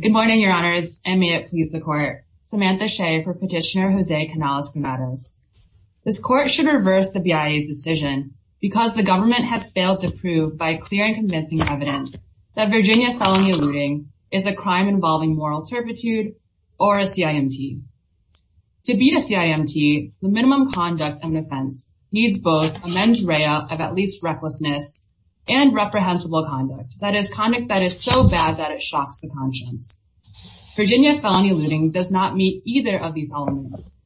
Good morning, your honors, and may it please the court. Samantha Shea for petitioner Jose Canales Granados. This court should reverse the BIA's decision because the government has failed to prove by clear and convincing evidence that Virginia felony eluding is a crime involving moral turpitude or a CIMT. To beat a CIMT, the minimum conduct and defense needs both a mens rea of at least recklessness and reprehensible conduct that is conduct that is so bad that it Virginia felony eluding does not meet either of these elements.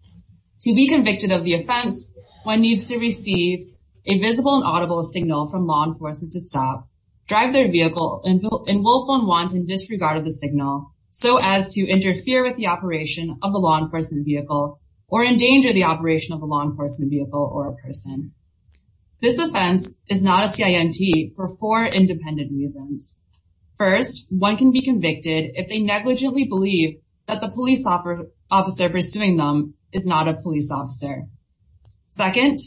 To be convicted of the offense, one needs to receive a visible and audible signal from law enforcement to stop, drive their vehicle, and willful and wanton disregard of the signal so as to interfere with the operation of the law enforcement vehicle or endanger the operation of a law enforcement vehicle or a person. This offense is not a CIMT for four independent reasons. First, one can be convicted if they negligently believe that the police officer pursuing them is not a police officer. Second,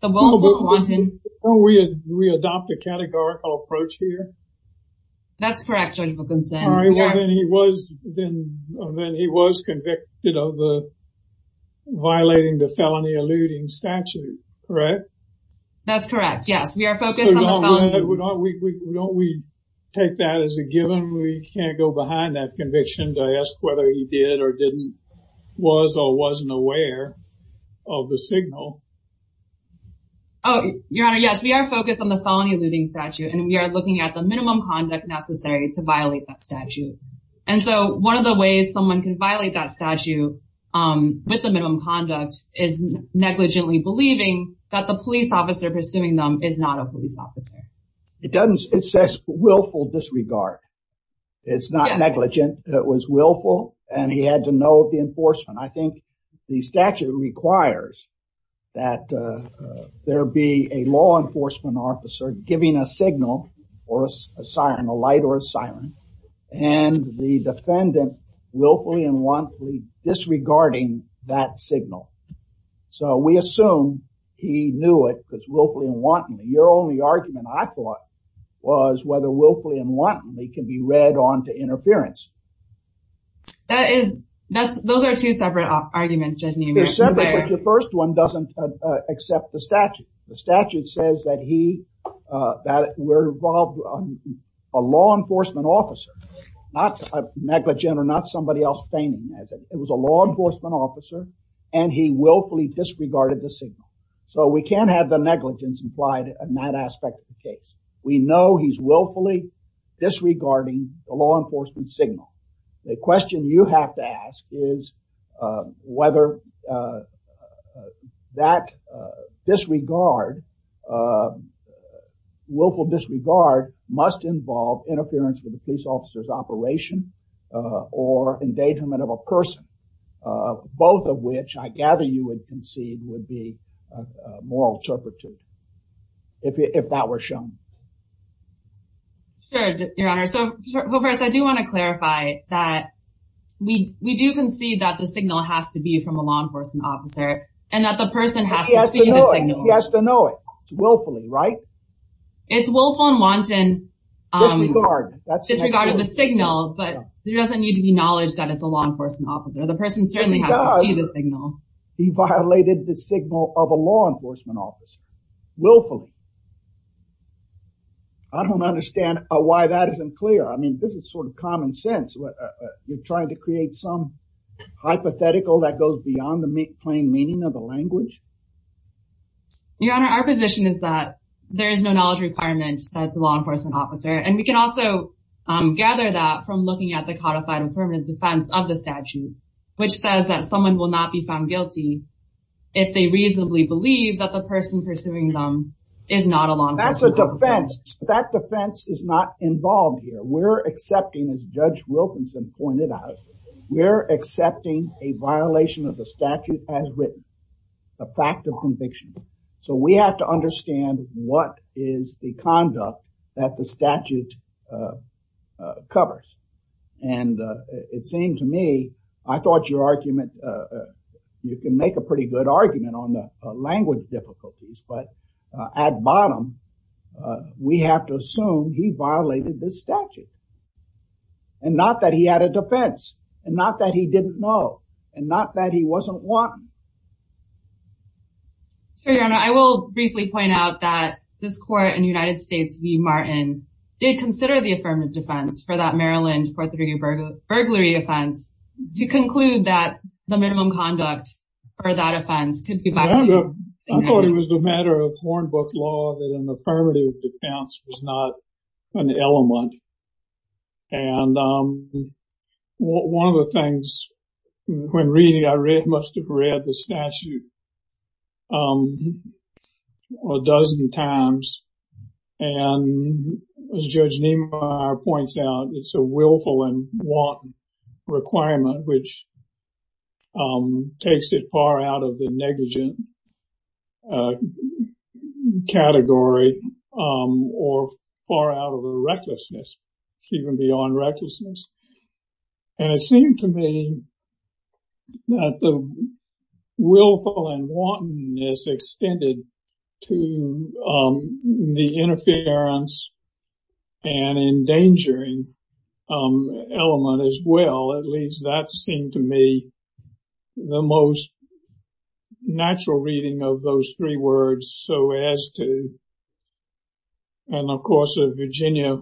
the willful and wanton... Don't we adopt a categorical approach here? That's correct, Judge Wilkinson. All right, well, then he was convicted of violating the felony eluding statute, correct? That's correct. Yes, we are focused on the felonies. Don't we take that as a given? We can't go behind that conviction to ask whether he did or didn't, was or wasn't aware of the signal. Oh, Your Honor, yes, we are focused on the felony eluding statute, and we are looking at the minimum conduct necessary to violate that statute. And so one of the ways someone can violate that statute with the minimum conduct is negligently believing that the police officer pursuing them is not a police officer. It says willful disregard. It's not negligent. It was willful, and he had to know the enforcement. I think the statute requires that there be a law enforcement officer giving a signal or a siren, a light or a siren, and the defendant willfully and wantonly disregarding that signal. So we assume he knew it because willfully and wantonly. You're right. The only argument I thought was whether willfully and wantonly can be read on to interference. That is, those are two separate arguments, Judge Neumann. They're separate, but the first one doesn't accept the statute. The statute says that he, that we're involved, a law enforcement officer, not a negligent or not somebody else feigning as it was a law enforcement officer, and he willfully disregarded the signal. So we can't have the aspect of the case. We know he's willfully disregarding a law enforcement signal. The question you have to ask is whether that disregard, willful disregard must involve interference with the police officer's operation or endangerment of a person, both of which I gather you would would be a moral turpitude if that were shown. Sure, Your Honor. So first, I do want to clarify that we do concede that the signal has to be from a law enforcement officer and that the person has to see the signal. He has to know it. It's willfully, right? It's willful and wanton disregard of the signal, but there doesn't need to be knowledge that it's a law enforcement officer. The person certainly has to see the signal. He violated the signal of a law enforcement officer, willfully. I don't understand why that isn't clear. I mean, this is sort of common sense. You're trying to create some hypothetical that goes beyond the plain meaning of the language? Your Honor, our position is that there is no knowledge requirement that it's a law enforcement officer. And we can also gather that from looking at the codified affirmative defense of the statute, which says that someone will not be found guilty if they reasonably believe that the person pursuing them is not a law enforcement officer. That's a defense. That defense is not involved here. We're accepting, as Judge Wilkinson pointed out, we're accepting a violation of the statute as written, a fact of conviction. So we have to understand what is the conduct that the statute covers. And it seemed to me, I thought your argument, you can make a pretty good argument on the language difficulties. But at bottom, we have to assume he violated the statute. And not that he had a defense, and not that he didn't know, and not that he wasn't one. So Your Honor, I will briefly point out that this court in consider the affirmative defense for that Maryland fourth degree burglary offense, to conclude that the minimum conduct for that offense could be violated. I thought it was a matter of Hornbook law that an affirmative defense was not an element. And one of the things, when reading I must have read the statute a dozen times, and as Judge Niemeyer points out, it's a willful and want requirement, which takes it far out of the negligent category, or far out of the recklessness, even beyond recklessness. And it seemed to me that the willful and wantonness extended to the interference and endangering element as well. At least that seemed to me the most natural reading of those three words. So as to, and of course, the Virginia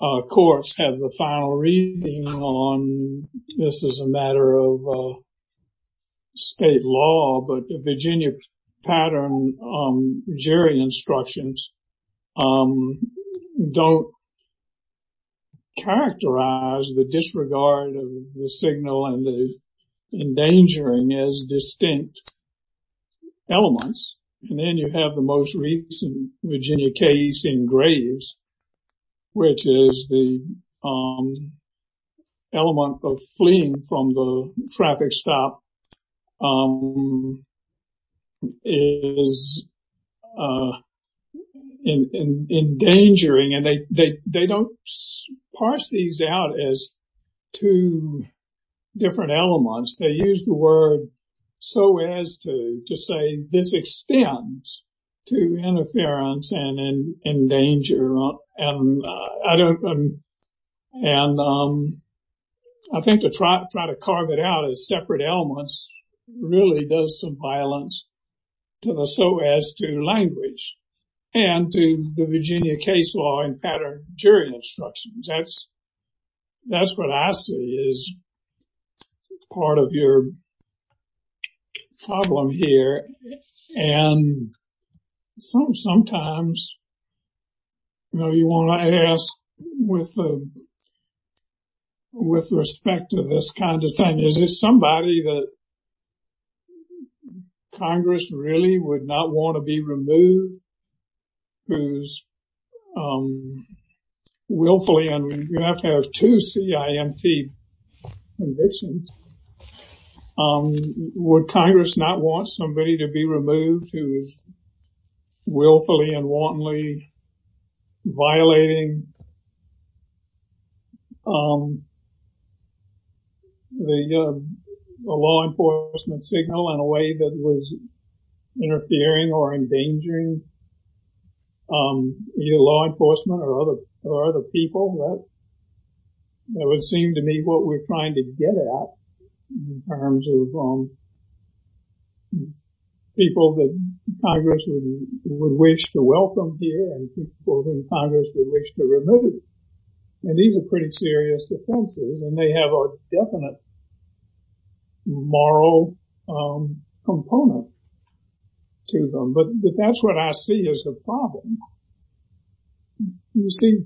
courts have the final reading on this as a matter of state law, but the Virginia pattern jury instructions don't characterize the disregard of the signal and the endangering as distinct elements. And then you have the most recent Virginia case in Graves, which the element of fleeing from the traffic stop is endangering. And they don't parse these out as two different elements. They use the word so as to say this extends to interference and endanger. And I think to try to carve it out as separate elements really does some violence to the so as to language and to the Virginia case law and pattern jury instructions. That's what I see as part of your problem here. And sometimes, you know, you want to ask with respect to this kind of thing, is this somebody that Congress really would not want to be removed? Who's willfully and we have to have two CIMT convictions. Would Congress not want somebody to be removed who is willfully and wantonly violating the law enforcement signal in a way that was interfering or endangering law enforcement or other people? That would seem to me what we're trying to get at in terms of people that Congress would wish to welcome here and people in Congress would wish to remove. And these are pretty serious offenses and they have a component to them. But that's what I see as the problem. You see,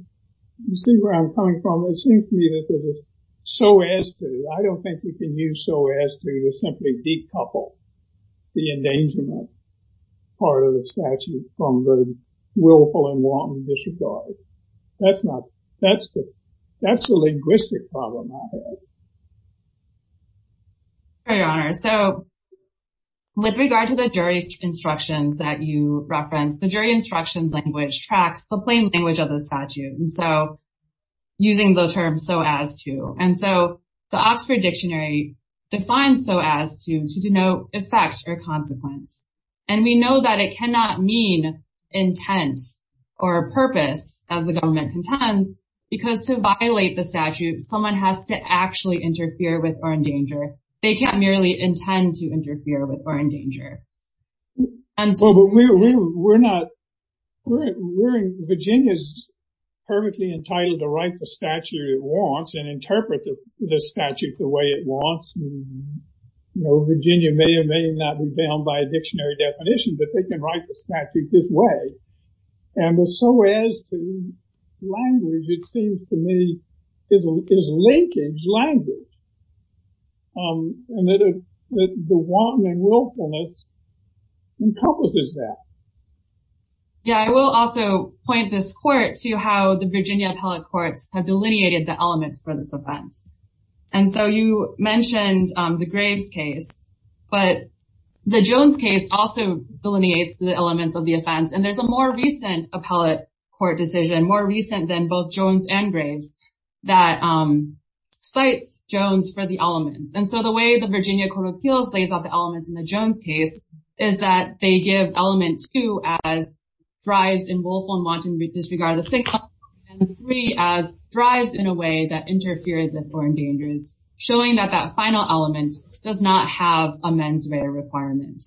you see where I'm coming from. It seems to me that there is so as to. I don't think we can use so as to to simply decouple the endangerment part of the statute from the willful and wantonly disregard. That's not, that's the linguistic problem I have. Your Honor, so with regard to the jury's instructions that you referenced, the jury instructions language tracks the plain language of the statute. And so using the term so as to and so the Oxford Dictionary defines so as to, to denote effect or consequence. And we know that it cannot mean intent or purpose as the government contends, because to violate the statute, they can't actually interfere with or endanger. They can't merely intend to interfere with or endanger. Well, but we're not, we're in, Virginia's perfectly entitled to write the statute it wants and interpret the statute the way it wants. You know, Virginia may or may not be bound by a dictionary definition, but they can write the statute this way. And so as language, it seems to me, is linkage language. And that the wanton and willfulness encompasses that. Yeah, I will also point this court to how the Virginia Appellate Courts have delineated the elements for this offense. And so you mentioned the Graves case, but the Jones case also delineates the elements of the offense. And there's a more recent appellate court decision more recent than both Jones and Graves, that cites Jones for the elements. And so the way the Virginia Court of Appeals lays out the elements in the Jones case, is that they give element two as thrives in willful and wanton disregard of the single, and three as thrives in a way that interferes with or endangers, showing that that final element does not have a mens rea requirement.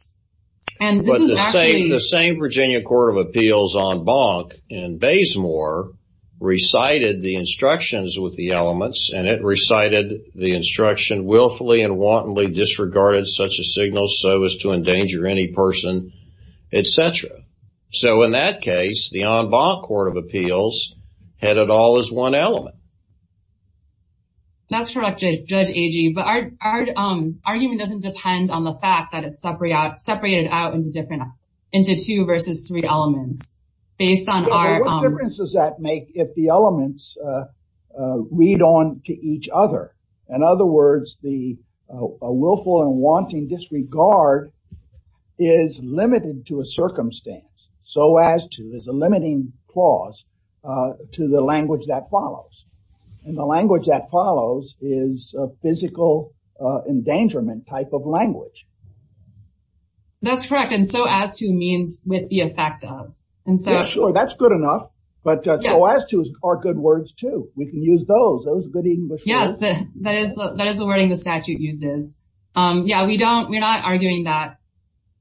And the same the same Virginia Court of Appeals en banc in Baysmore recited the instructions with the elements and it recited the instruction willfully and wantonly disregarded such a signal so as to endanger any person, etc. So in that case, the en banc Court of Appeals had it all as one element. That's correct, Judge Agee. But our argument doesn't depend on the fact that it's separated out in different, into two versus three elements, based on our... What difference does that make if the elements read on to each other? In other words, the willful and wanting disregard is limited to a circumstance, so as to, there's a limiting clause to the language that follows. And the language that follows is a physical endangerment type of language. That's correct. And so as to means with the effect of, and so... Sure, that's good enough. But so as to are good words, too. We can use those, those good English words. Yes, that is the wording the statute uses. Yeah, we don't, we're not arguing that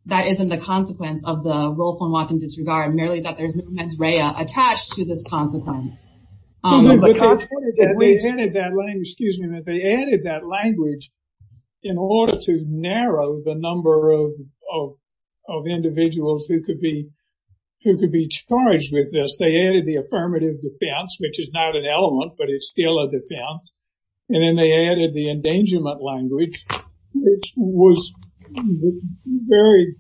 that isn't the consequence of the willful and wanting disregard, merely that there's mens rea attached to this consequence. No, but they added that language, excuse me, but they added that language in order to narrow the number of individuals who could be charged with this. They added the affirmative defense, which is not an element, but it's still a defense. And then they added the endangerment language, which was very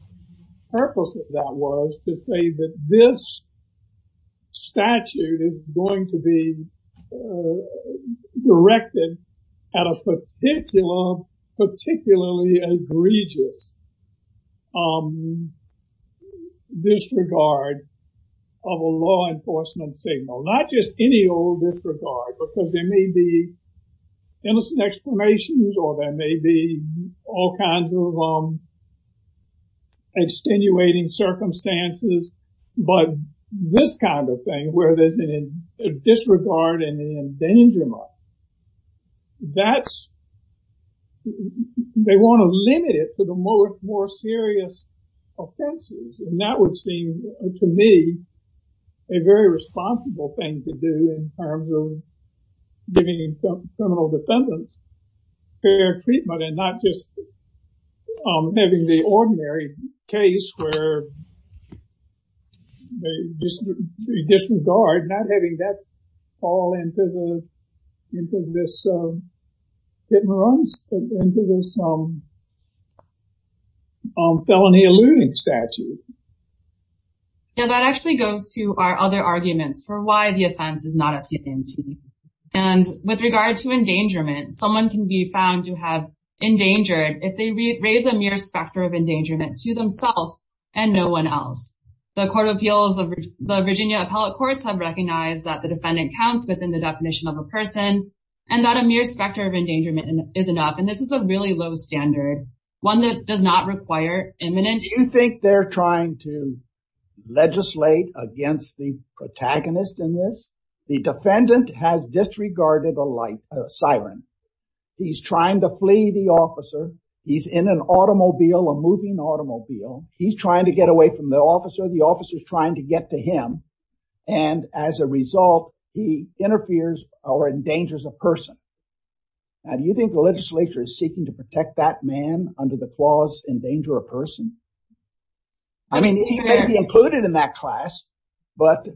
purposeful, that was to say that this statute is going to be directed at a particular, particularly egregious disregard of a law enforcement signal, not just any old disregard, because there may be innocent exclamations, or there may be all kinds of extenuating circumstances. But this kind of thing, where there's a disregard and an endangerment, that's, they want to limit it to the more serious offenses. And that would seem to me, a very responsible thing to do in terms of giving criminal defendants fair treatment and not just having the ordinary case where they disregard, not having that fall into this hit and run, into this felony alluding statute. Yeah, that actually goes to our other arguments for why the And with regard to endangerment, someone can be found to have endangered if they raise a mere specter of endangerment to themself, and no one else. The Court of Appeals of the Virginia Appellate Courts have recognized that the defendant counts within the definition of a person, and that a mere specter of endangerment is enough. And this is a really low standard, one that does not require imminent... Do you think they're trying to legislate against the disregarded a siren. He's trying to flee the officer. He's in an automobile, a moving automobile. He's trying to get away from the officer. The officer is trying to get to him. And as a result, he interferes or endangers a person. Do you think the legislature is seeking to protect that man under the clause endanger a person? I mean, he may be included in that But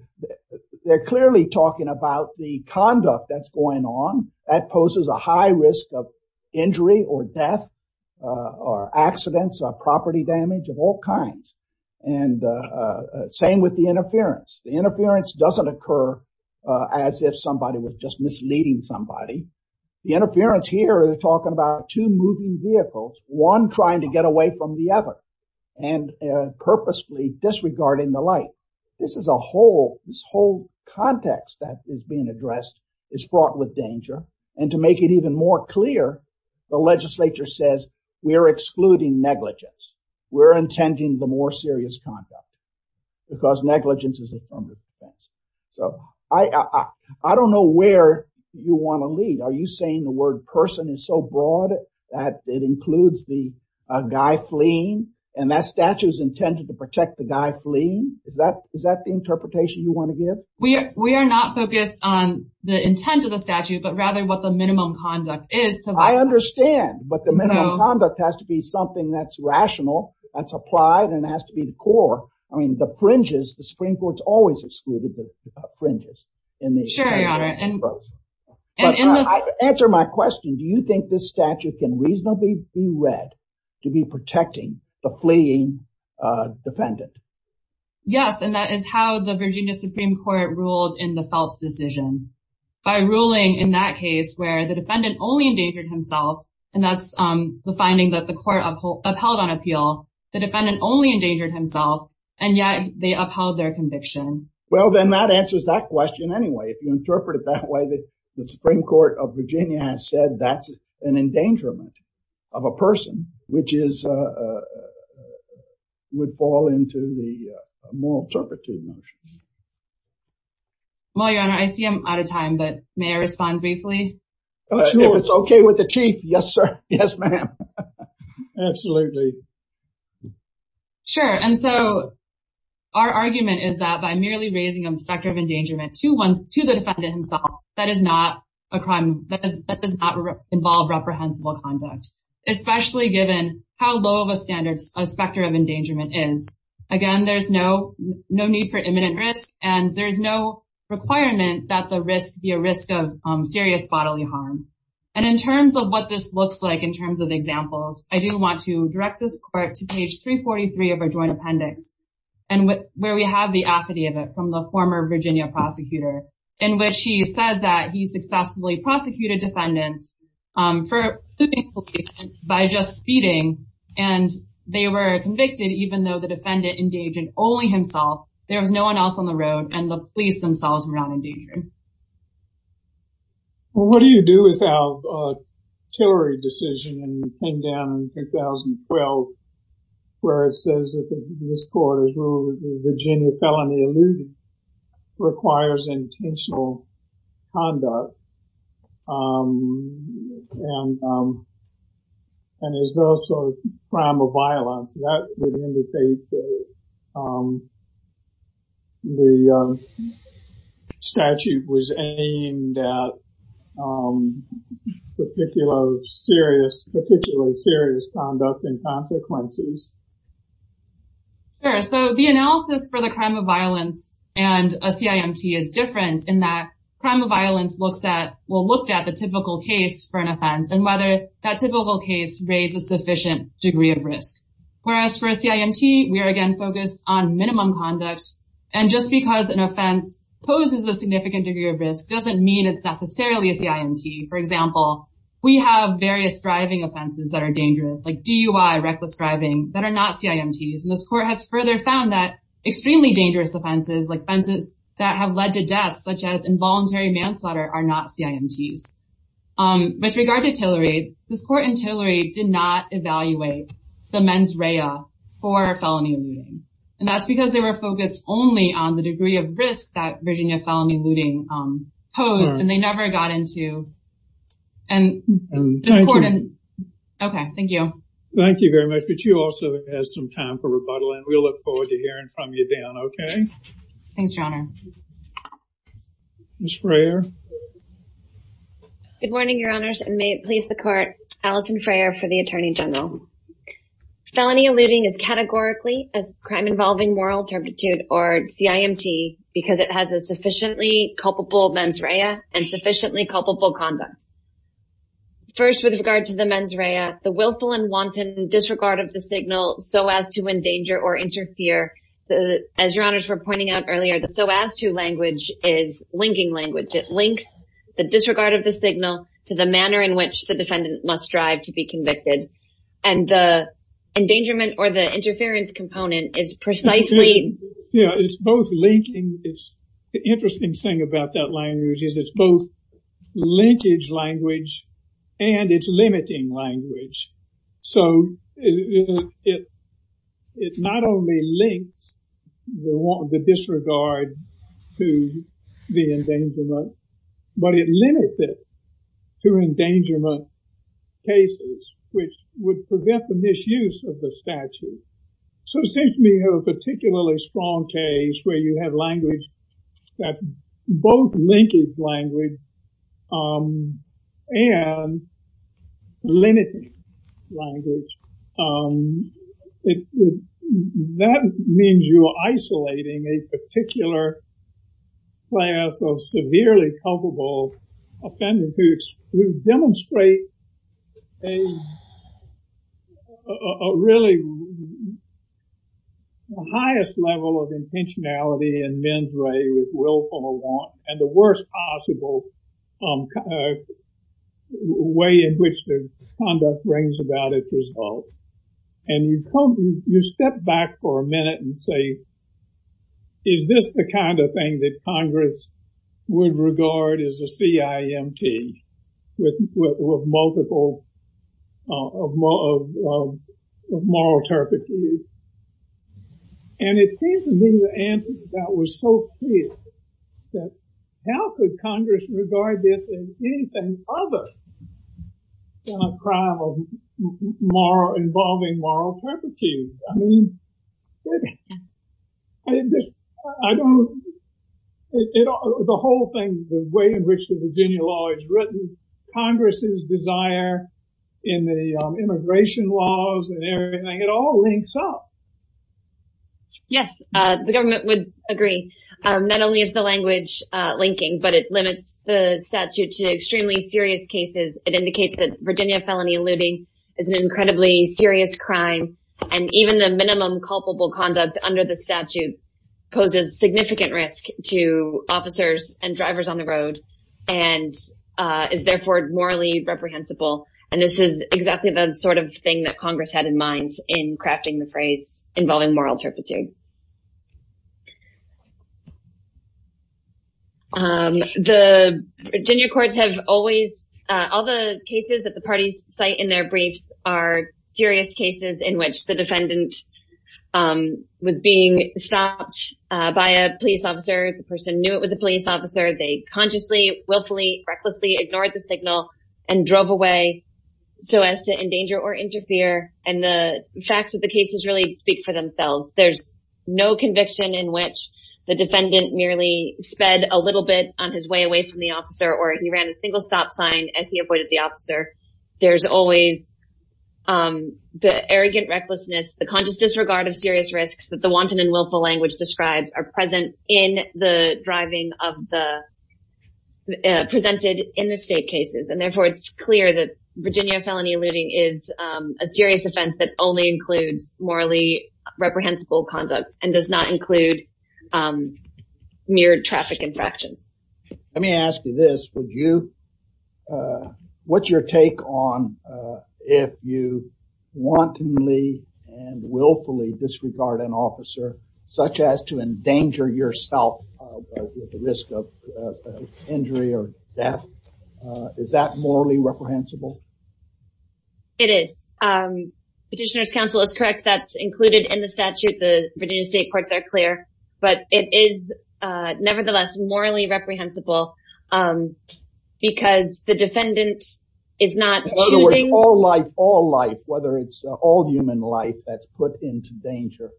they're clearly talking about the conduct that's going on that poses a high risk of injury or death, or accidents or property damage of all kinds. And same with the interference, the interference doesn't occur, as if somebody was just misleading somebody. The interference here, they're talking about two moving vehicles, one trying to get away from the other, and purposely disregarding the light. This is a whole, this whole context that is being addressed, is fraught with danger. And to make it even more clear, the legislature says, we're excluding negligence, we're intending the more serious conduct, because negligence is a fundamental offense. So I don't know where you want to lead. Are you saying the word person is so broad, that it includes the guy fleeing, and that statue is intended to protect the guy fleeing? Is that is that the interpretation you want to give? We are not focused on the intent of the statute, but rather what the minimum conduct is. So I understand, but the minimum conduct has to be something that's rational, that's applied and has to be the core. I mean, the fringes, the Supreme Court's always excluded the fringes in the statute. Sure, Your Honor. Answer my question, do you think this statute can reasonably be read to be protecting the fleeing defendant? Yes, and that is how the Virginia Supreme Court ruled in the Phelps decision, by ruling in that case where the defendant only endangered himself. And that's the finding that the court upheld on appeal, the defendant only endangered himself, and yet they upheld their conviction. Well, then that answers that question. Anyway, if you interpret it that way, the Supreme Court of Virginia has said that's an endangerment of a person, which is, would fall into the moral turpitude notions. Well, Your Honor, I see I'm out of time, but may I respond briefly? If it's okay with the Chief, yes, sir. Yes, ma'am. Absolutely. Sure. And so our argument is that by merely raising a specter of endangerment to the defendant himself, that does not involve reprehensible conduct, especially given how low of a standard a specter of endangerment is. Again, there's no need for imminent risk, and there's no requirement that the risk be a risk of serious bodily harm. And in terms of what this looks like, in terms of examples, I do want to direct this court to page 343 of our joint appendix, and where we have the affidavit from the former Virginia prosecutor, in which he says that he successfully prosecuted defendants by just speeding, and they were convicted even though the defendant endangered only himself, there was no one else on the road, and the police themselves were not endangered. What do you do with our Tillery decision in 2012, where it says that this court has ruled that the Virginia felony allusion requires intentional conduct, and is also a crime of violence. That would indicate that the statute was aimed at particular serious, particularly serious conduct and consequences. Sure, so the analysis for the crime of violence, and a CIMT is different in that crime of violence looks at, well looked at the typical case for an offense, and whether that typical case raise a sufficient degree of risk. Whereas for a CIMT, we are again focused on minimum conduct. And just because an offense poses a significant degree of risk doesn't mean it's necessarily a CIMT. For example, we have various driving offenses that are dangerous, like DUI, reckless driving that are not CIMTs. And this court has further found that extremely dangerous offenses like offenses that have led to death, such as involuntary manslaughter are not CIMTs. With regard to Tillery, this court in Tillery did not evaluate the mens rea for felony alluding. And that's because they were focused only on the degree of risk that Virginia felony alluding posed and they never got into. And, okay, thank you. Thank you very much. But you also have some time for rebuttal. And we look forward to hearing from you Dan. Okay. Thanks, Your Honor. Ms. Freyer. Good morning, Your Honors, and may it please the court, Alison Freyer for the Attorney General. Felony alluding is categorically a crime involving moral turpitude or CIMT because it has a sufficiently culpable mens rea and sufficiently culpable conduct. First, with regard to the mens rea, the willful and wanton disregard of the signal so as to endanger or pointing out earlier, the so as to language is linking language, it links the disregard of the signal to the manner in which the defendant must strive to be convicted. And the endangerment or the interference component is precisely... Yeah, it's both linking, it's the interesting thing about that language is it's both linkage language, and it's limiting language. So it not only links the disregard to the endangerment, but it limits it to endangerment cases, which would prevent the misuse of the statute. So it seems to me a particularly strong case where you have language that both linkage language and limiting language. That means you are isolating a particular class of severely culpable offenders who demonstrate a really highest level of intentionality and the worst possible way in which the conduct brings about its result. And you step back for a minute and say, is this the kind of thing that Congress would regard as a CIMT with multiple of moral turpitude? And it seems to me the answer to that was so could Congress regard this as anything other than a crime of involving moral turpitude? I mean, the whole thing, the way in which the Virginia law is written, Congress's desire in the immigration laws and everything, it all links up. Yes, the government would agree. Not only is the language linking, but it limits the statute to extremely serious cases. It indicates that Virginia felony eluding is an incredibly serious crime. And even the minimum culpable conduct under the statute poses significant risk to officers and drivers on the road, and is therefore morally reprehensible. And this is exactly the sort of thing that Congress had in mind in crafting the phrase involving moral turpitude. The Virginia courts have always, all the cases that the parties cite in their briefs are serious cases in which the defendant was being stopped by a police officer, the person knew it was a police officer, they consciously, willfully, recklessly ignored the signal and drove away so as to endanger or interfere. And the facts of the cases really speak for themselves. There's no conviction in which the defendant merely sped a little bit on his way away from the officer, or he ran a single stop sign as he avoided the officer. There's always the arrogant recklessness, the conscious disregard of serious risks that the wanton and willful language describes are present in the driving of the presented in the state cases. And therefore, it's clear that Virginia felony looting is a serious offense that only includes morally reprehensible conduct and does not include mere traffic infractions. Let me ask you this, would you? What's your take on if you wantonly and willfully disregard an officer, such as to endanger yourself with the risk of injury or death? Is that morally reprehensible? It is. Petitioner's counsel is correct, that's included in the statute, the Virginia State Courts are clear, but it is nevertheless morally reprehensible. Because the defendant is not choosing... All life, all life, whether it's all human life that's put into danger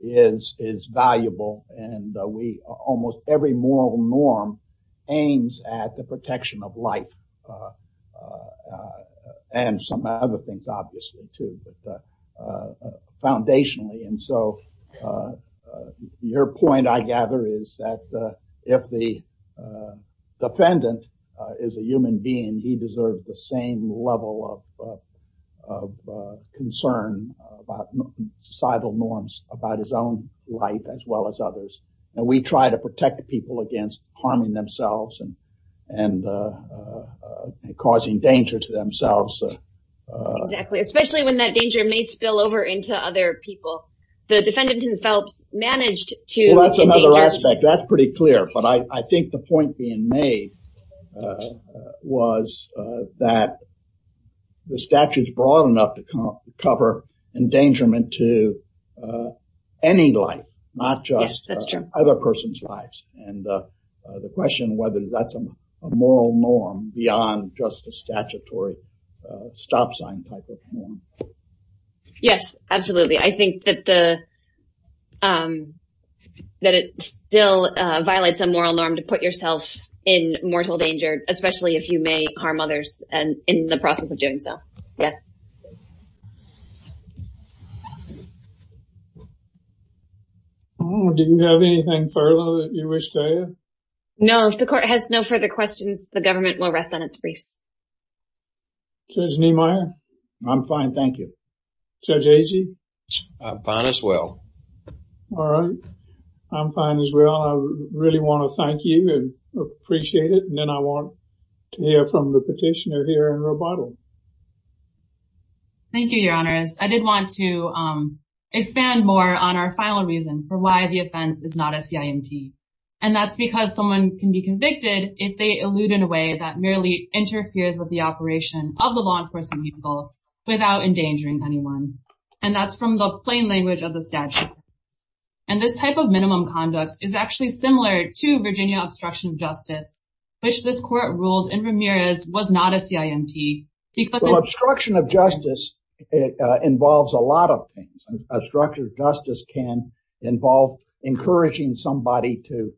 is valuable. And we almost every moral norm aims at the protection of life. And some other things, obviously, too, but foundationally. And so your point, I gather, is that if the defendant is a human being, he deserves the same level of concern about societal norms about his own life, as well as others. And we try to protect people against harming themselves and, and causing danger to themselves. Exactly, especially when that danger may spill over into other people. The defendant himself managed to... That's another aspect, that's pretty clear. But I think the point being made was that the statute is broad enough to cover endangerment to any life, not just other person's lives. And the question whether that's a moral norm beyond just a statutory stop sign type of norm. Yes, absolutely. I think that it still violates a moral norm to put yourself in mortal danger, especially if you may harm others and in the process of doing so. Yes. Do you have anything further that you wish to add? No, if the court has no further questions, the government will rest on its briefs. Judge Niemeyer? I'm fine, thank you. Judge Agee? I'm fine as well. All right. I'm fine as well. I really want to thank you and appreciate it. And then I want to hear from the petitioner here in rebuttal. Thank you, Your Honors. I did want to expand more on our final reason for why the offense is not a CIMT. And that's because someone can be convicted if they elude in a way that merely interferes with the operation of the law enforcement vehicle without endangering anyone. And that's from the plain language of the statute. And this type of minimum conduct is actually similar to Virginia obstruction of justice, which this court ruled in Ramirez was not a CIMT. Obstruction of justice involves a lot of things. Obstruction of justice can involve encouraging somebody to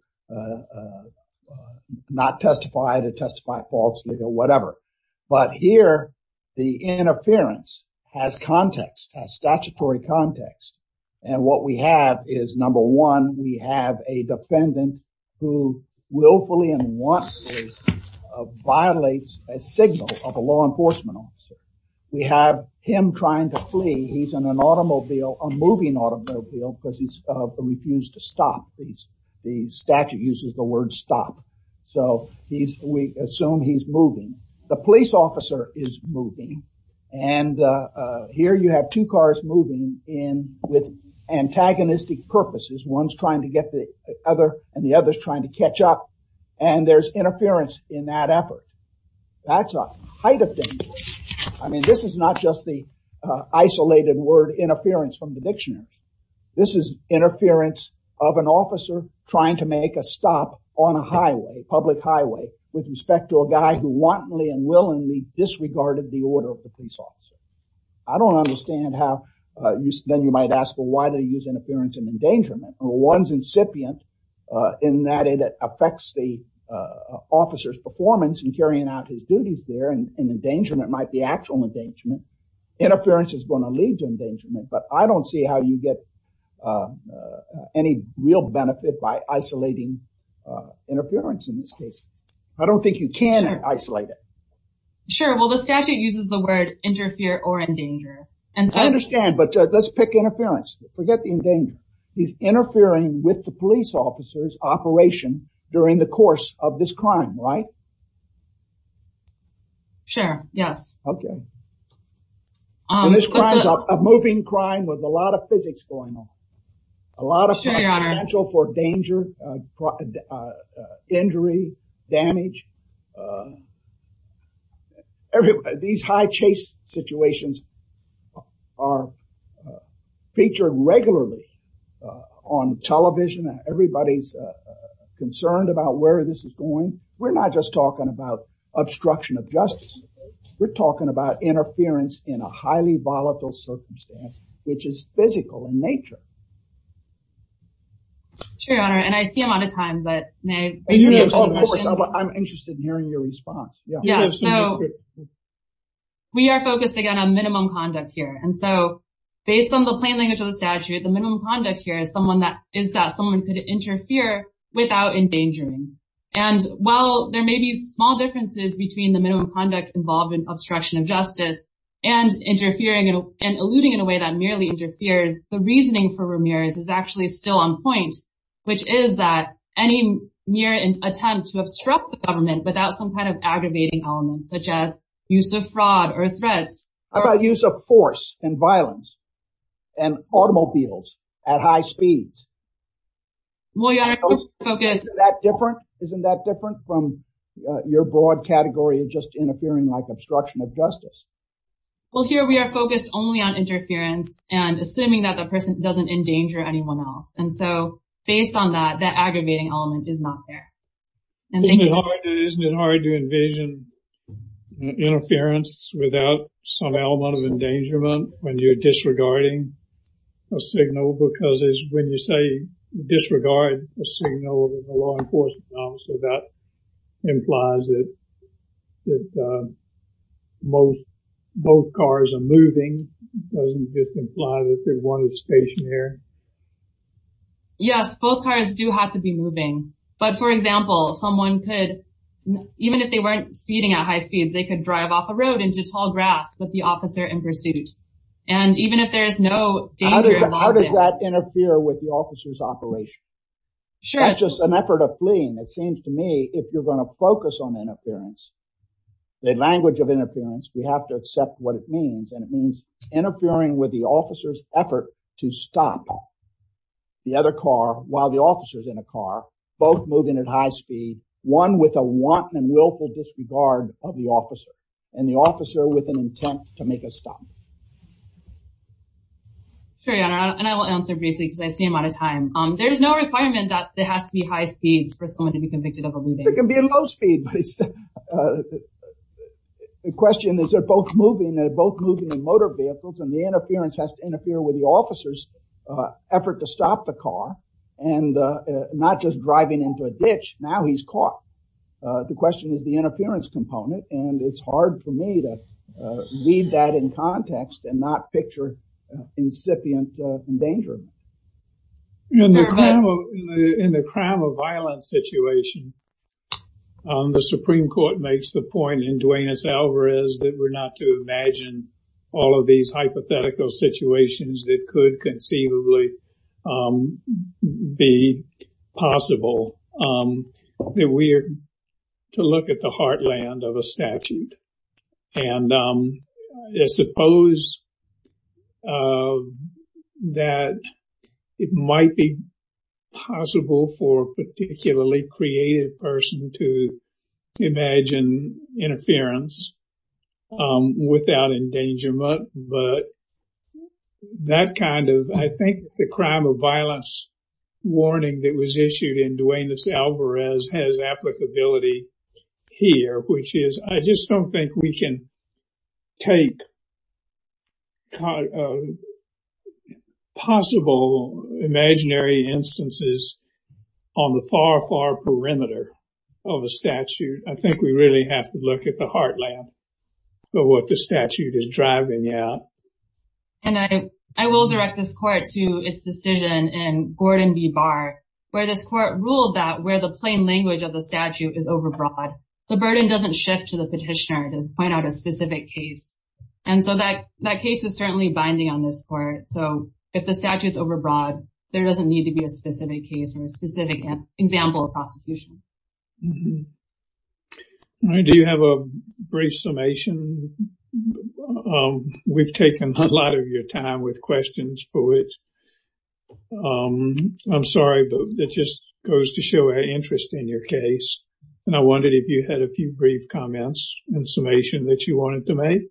not testify, to testify falsely or whatever. But here, the interference has context, has statutory context. And what we have is number one, we have a defendant who willfully and wantonly violates a signal of a law enforcement officer. We have him trying to flee. He's in an automobile, a moving automobile because he's refused to stop. The statute uses the word stop. So we assume he's moving. The police officer is moving. And here you have two cars moving in with antagonistic purposes. One's trying to get the other and the other is trying to catch up. And there's that's a height of danger. I mean, this is not just the isolated word interference from the dictionary. This is interference of an officer trying to make a stop on a highway, public highway, with respect to a guy who wantonly and willingly disregarded the order of the police officer. I don't understand how you then you might ask, well, why do you use interference and endangerment? One's incipient in that it affects the officer's performance in carrying out his duties there and endangerment might be actual endangerment. Interference is going to lead to endangerment, but I don't see how you get any real benefit by isolating interference in this case. I don't think you can isolate it. Sure. Well, the statute uses the word interfere or endanger. And I understand, but let's pick interference. Forget the endanger. He's interfering with the police officer's operation during the course of this crime, right? Sure, yes. Okay. This crime is a moving crime with a lot of physics going on. A lot of potential for danger, injury, damage. These high chase situations are featured regularly on television everybody's concerned about where this is going. We're not just talking about obstruction of justice. We're talking about interference in a highly volatile circumstance, which is physical in nature. Sure, Your Honor, and I see I'm out of time, but may I... I'm interested in hearing your response. Yeah, so we are focusing on a minimum conduct here. And so based on the plain language of the statute, the minimum conduct here is that someone could interfere without endangering. And while there may be small differences between the minimum conduct involved in obstruction of justice and interfering and eluding in a way that merely interferes, the reasoning for Ramirez is actually still on point, which is that any mere attempt to obstruct the government without some kind of aggravating elements such as use of fraud or threats... About use of force and violence and automobiles at high speeds. Well, Your Honor, we're focused... Isn't that different? Isn't that different from your broad category of just interfering like obstruction of justice? Well, here we are focused only on interference and assuming that the person doesn't endanger anyone else. And so based on that, that aggravating element is not there. And isn't it hard to envision interference without some amount of endangerment when you're disregarding a signal? Because when you say disregard a signal, the law enforcement officer, that implies that both cars are moving. Doesn't this imply that they're wanted stationary? Yes, both cars do have to be moving. But for example, someone could, even if they weren't speeding at high speeds, they could drive off a road into tall grass with the officer in pursuit. And even if there is no danger... How does that interfere with the officer's operation? Sure. That's just an effort of fleeing. It seems to me if you're going to focus on interference, the language of interference, we have to accept what it means. And it means interfering with the officer's effort to stop the other car while the officer's in a car, both moving at high speed, one with a wanton and willful disregard of the officer, and the officer with an intent to make a stop. Sure, and I will answer briefly because I see I'm out of time. Um, there's no requirement that there has to be high speeds for someone to be convicted of a looting. It can be a low speed. The question is, they're both moving, they're both moving in motor vehicles, and the interference has to interfere with the officer's effort to stop the car. And not just driving into a ditch, now he's caught. The question is the interference component. And it's hard for me to read that in context and not picture incipient danger. In the crime of violence situation, the Supreme Court makes the point in Duenas-Alvarez that we're not to imagine all of these hypothetical situations that could conceivably be possible. That we're to look at the heartland of a statute. And I suppose that it might be possible for a particularly creative person to imagine interference without endangerment. But that kind of, I think, the crime of violence warning that was issued in Duenas-Alvarez has applicability here, which is, I just don't think we can take possible imaginary instances on the far, far perimeter of a statute. I think we really have to look at the heartland of what the statute is driving at. And I will direct this court to its decision in Gordon v. Barr, where this court ruled that where the plain language of the statute is overbroad, the burden doesn't shift to the petitioner to point out a specific case. And so that that case is certainly binding on this court. So if the statute is overbroad, there doesn't need to be a specific case or a specific example of prosecution. Do you have a brief summation? We've taken a lot of your time with questions for it. I'm sorry, but that just goes to show our interest in your case. And I wondered if you had a few brief comments and summation that you wanted to make.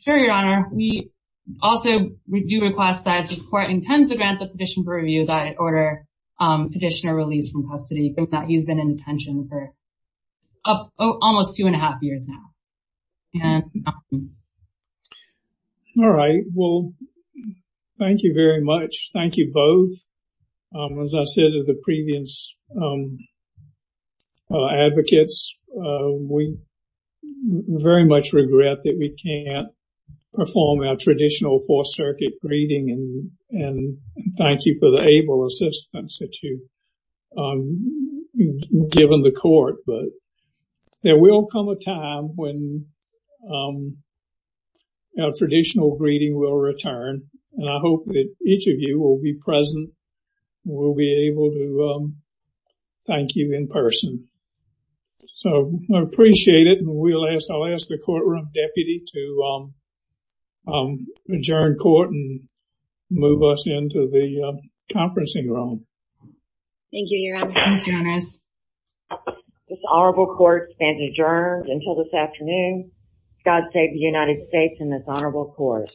Sure, Your Honor. We also do request that this court intends to grant the petition for review that order petitioner release from custody that he's been in detention for almost two and a half years now. All right. Well, thank you very much. Thank you both. As I said to the previous advocates, we very much regret that we can't perform our traditional Fourth Circuit greeting and thank you for the able assistance that you've given the court. But there will come a time when our traditional greeting will return. And I hope that each of you will be present. We'll be able to thank you in person. So I appreciate it. And we'll ask I'll ask the courtroom deputy to adjourn court and move us into the conferencing room. Thank you, Your Honor. This honorable court stands adjourned until this afternoon. God save the United States and this honorable court.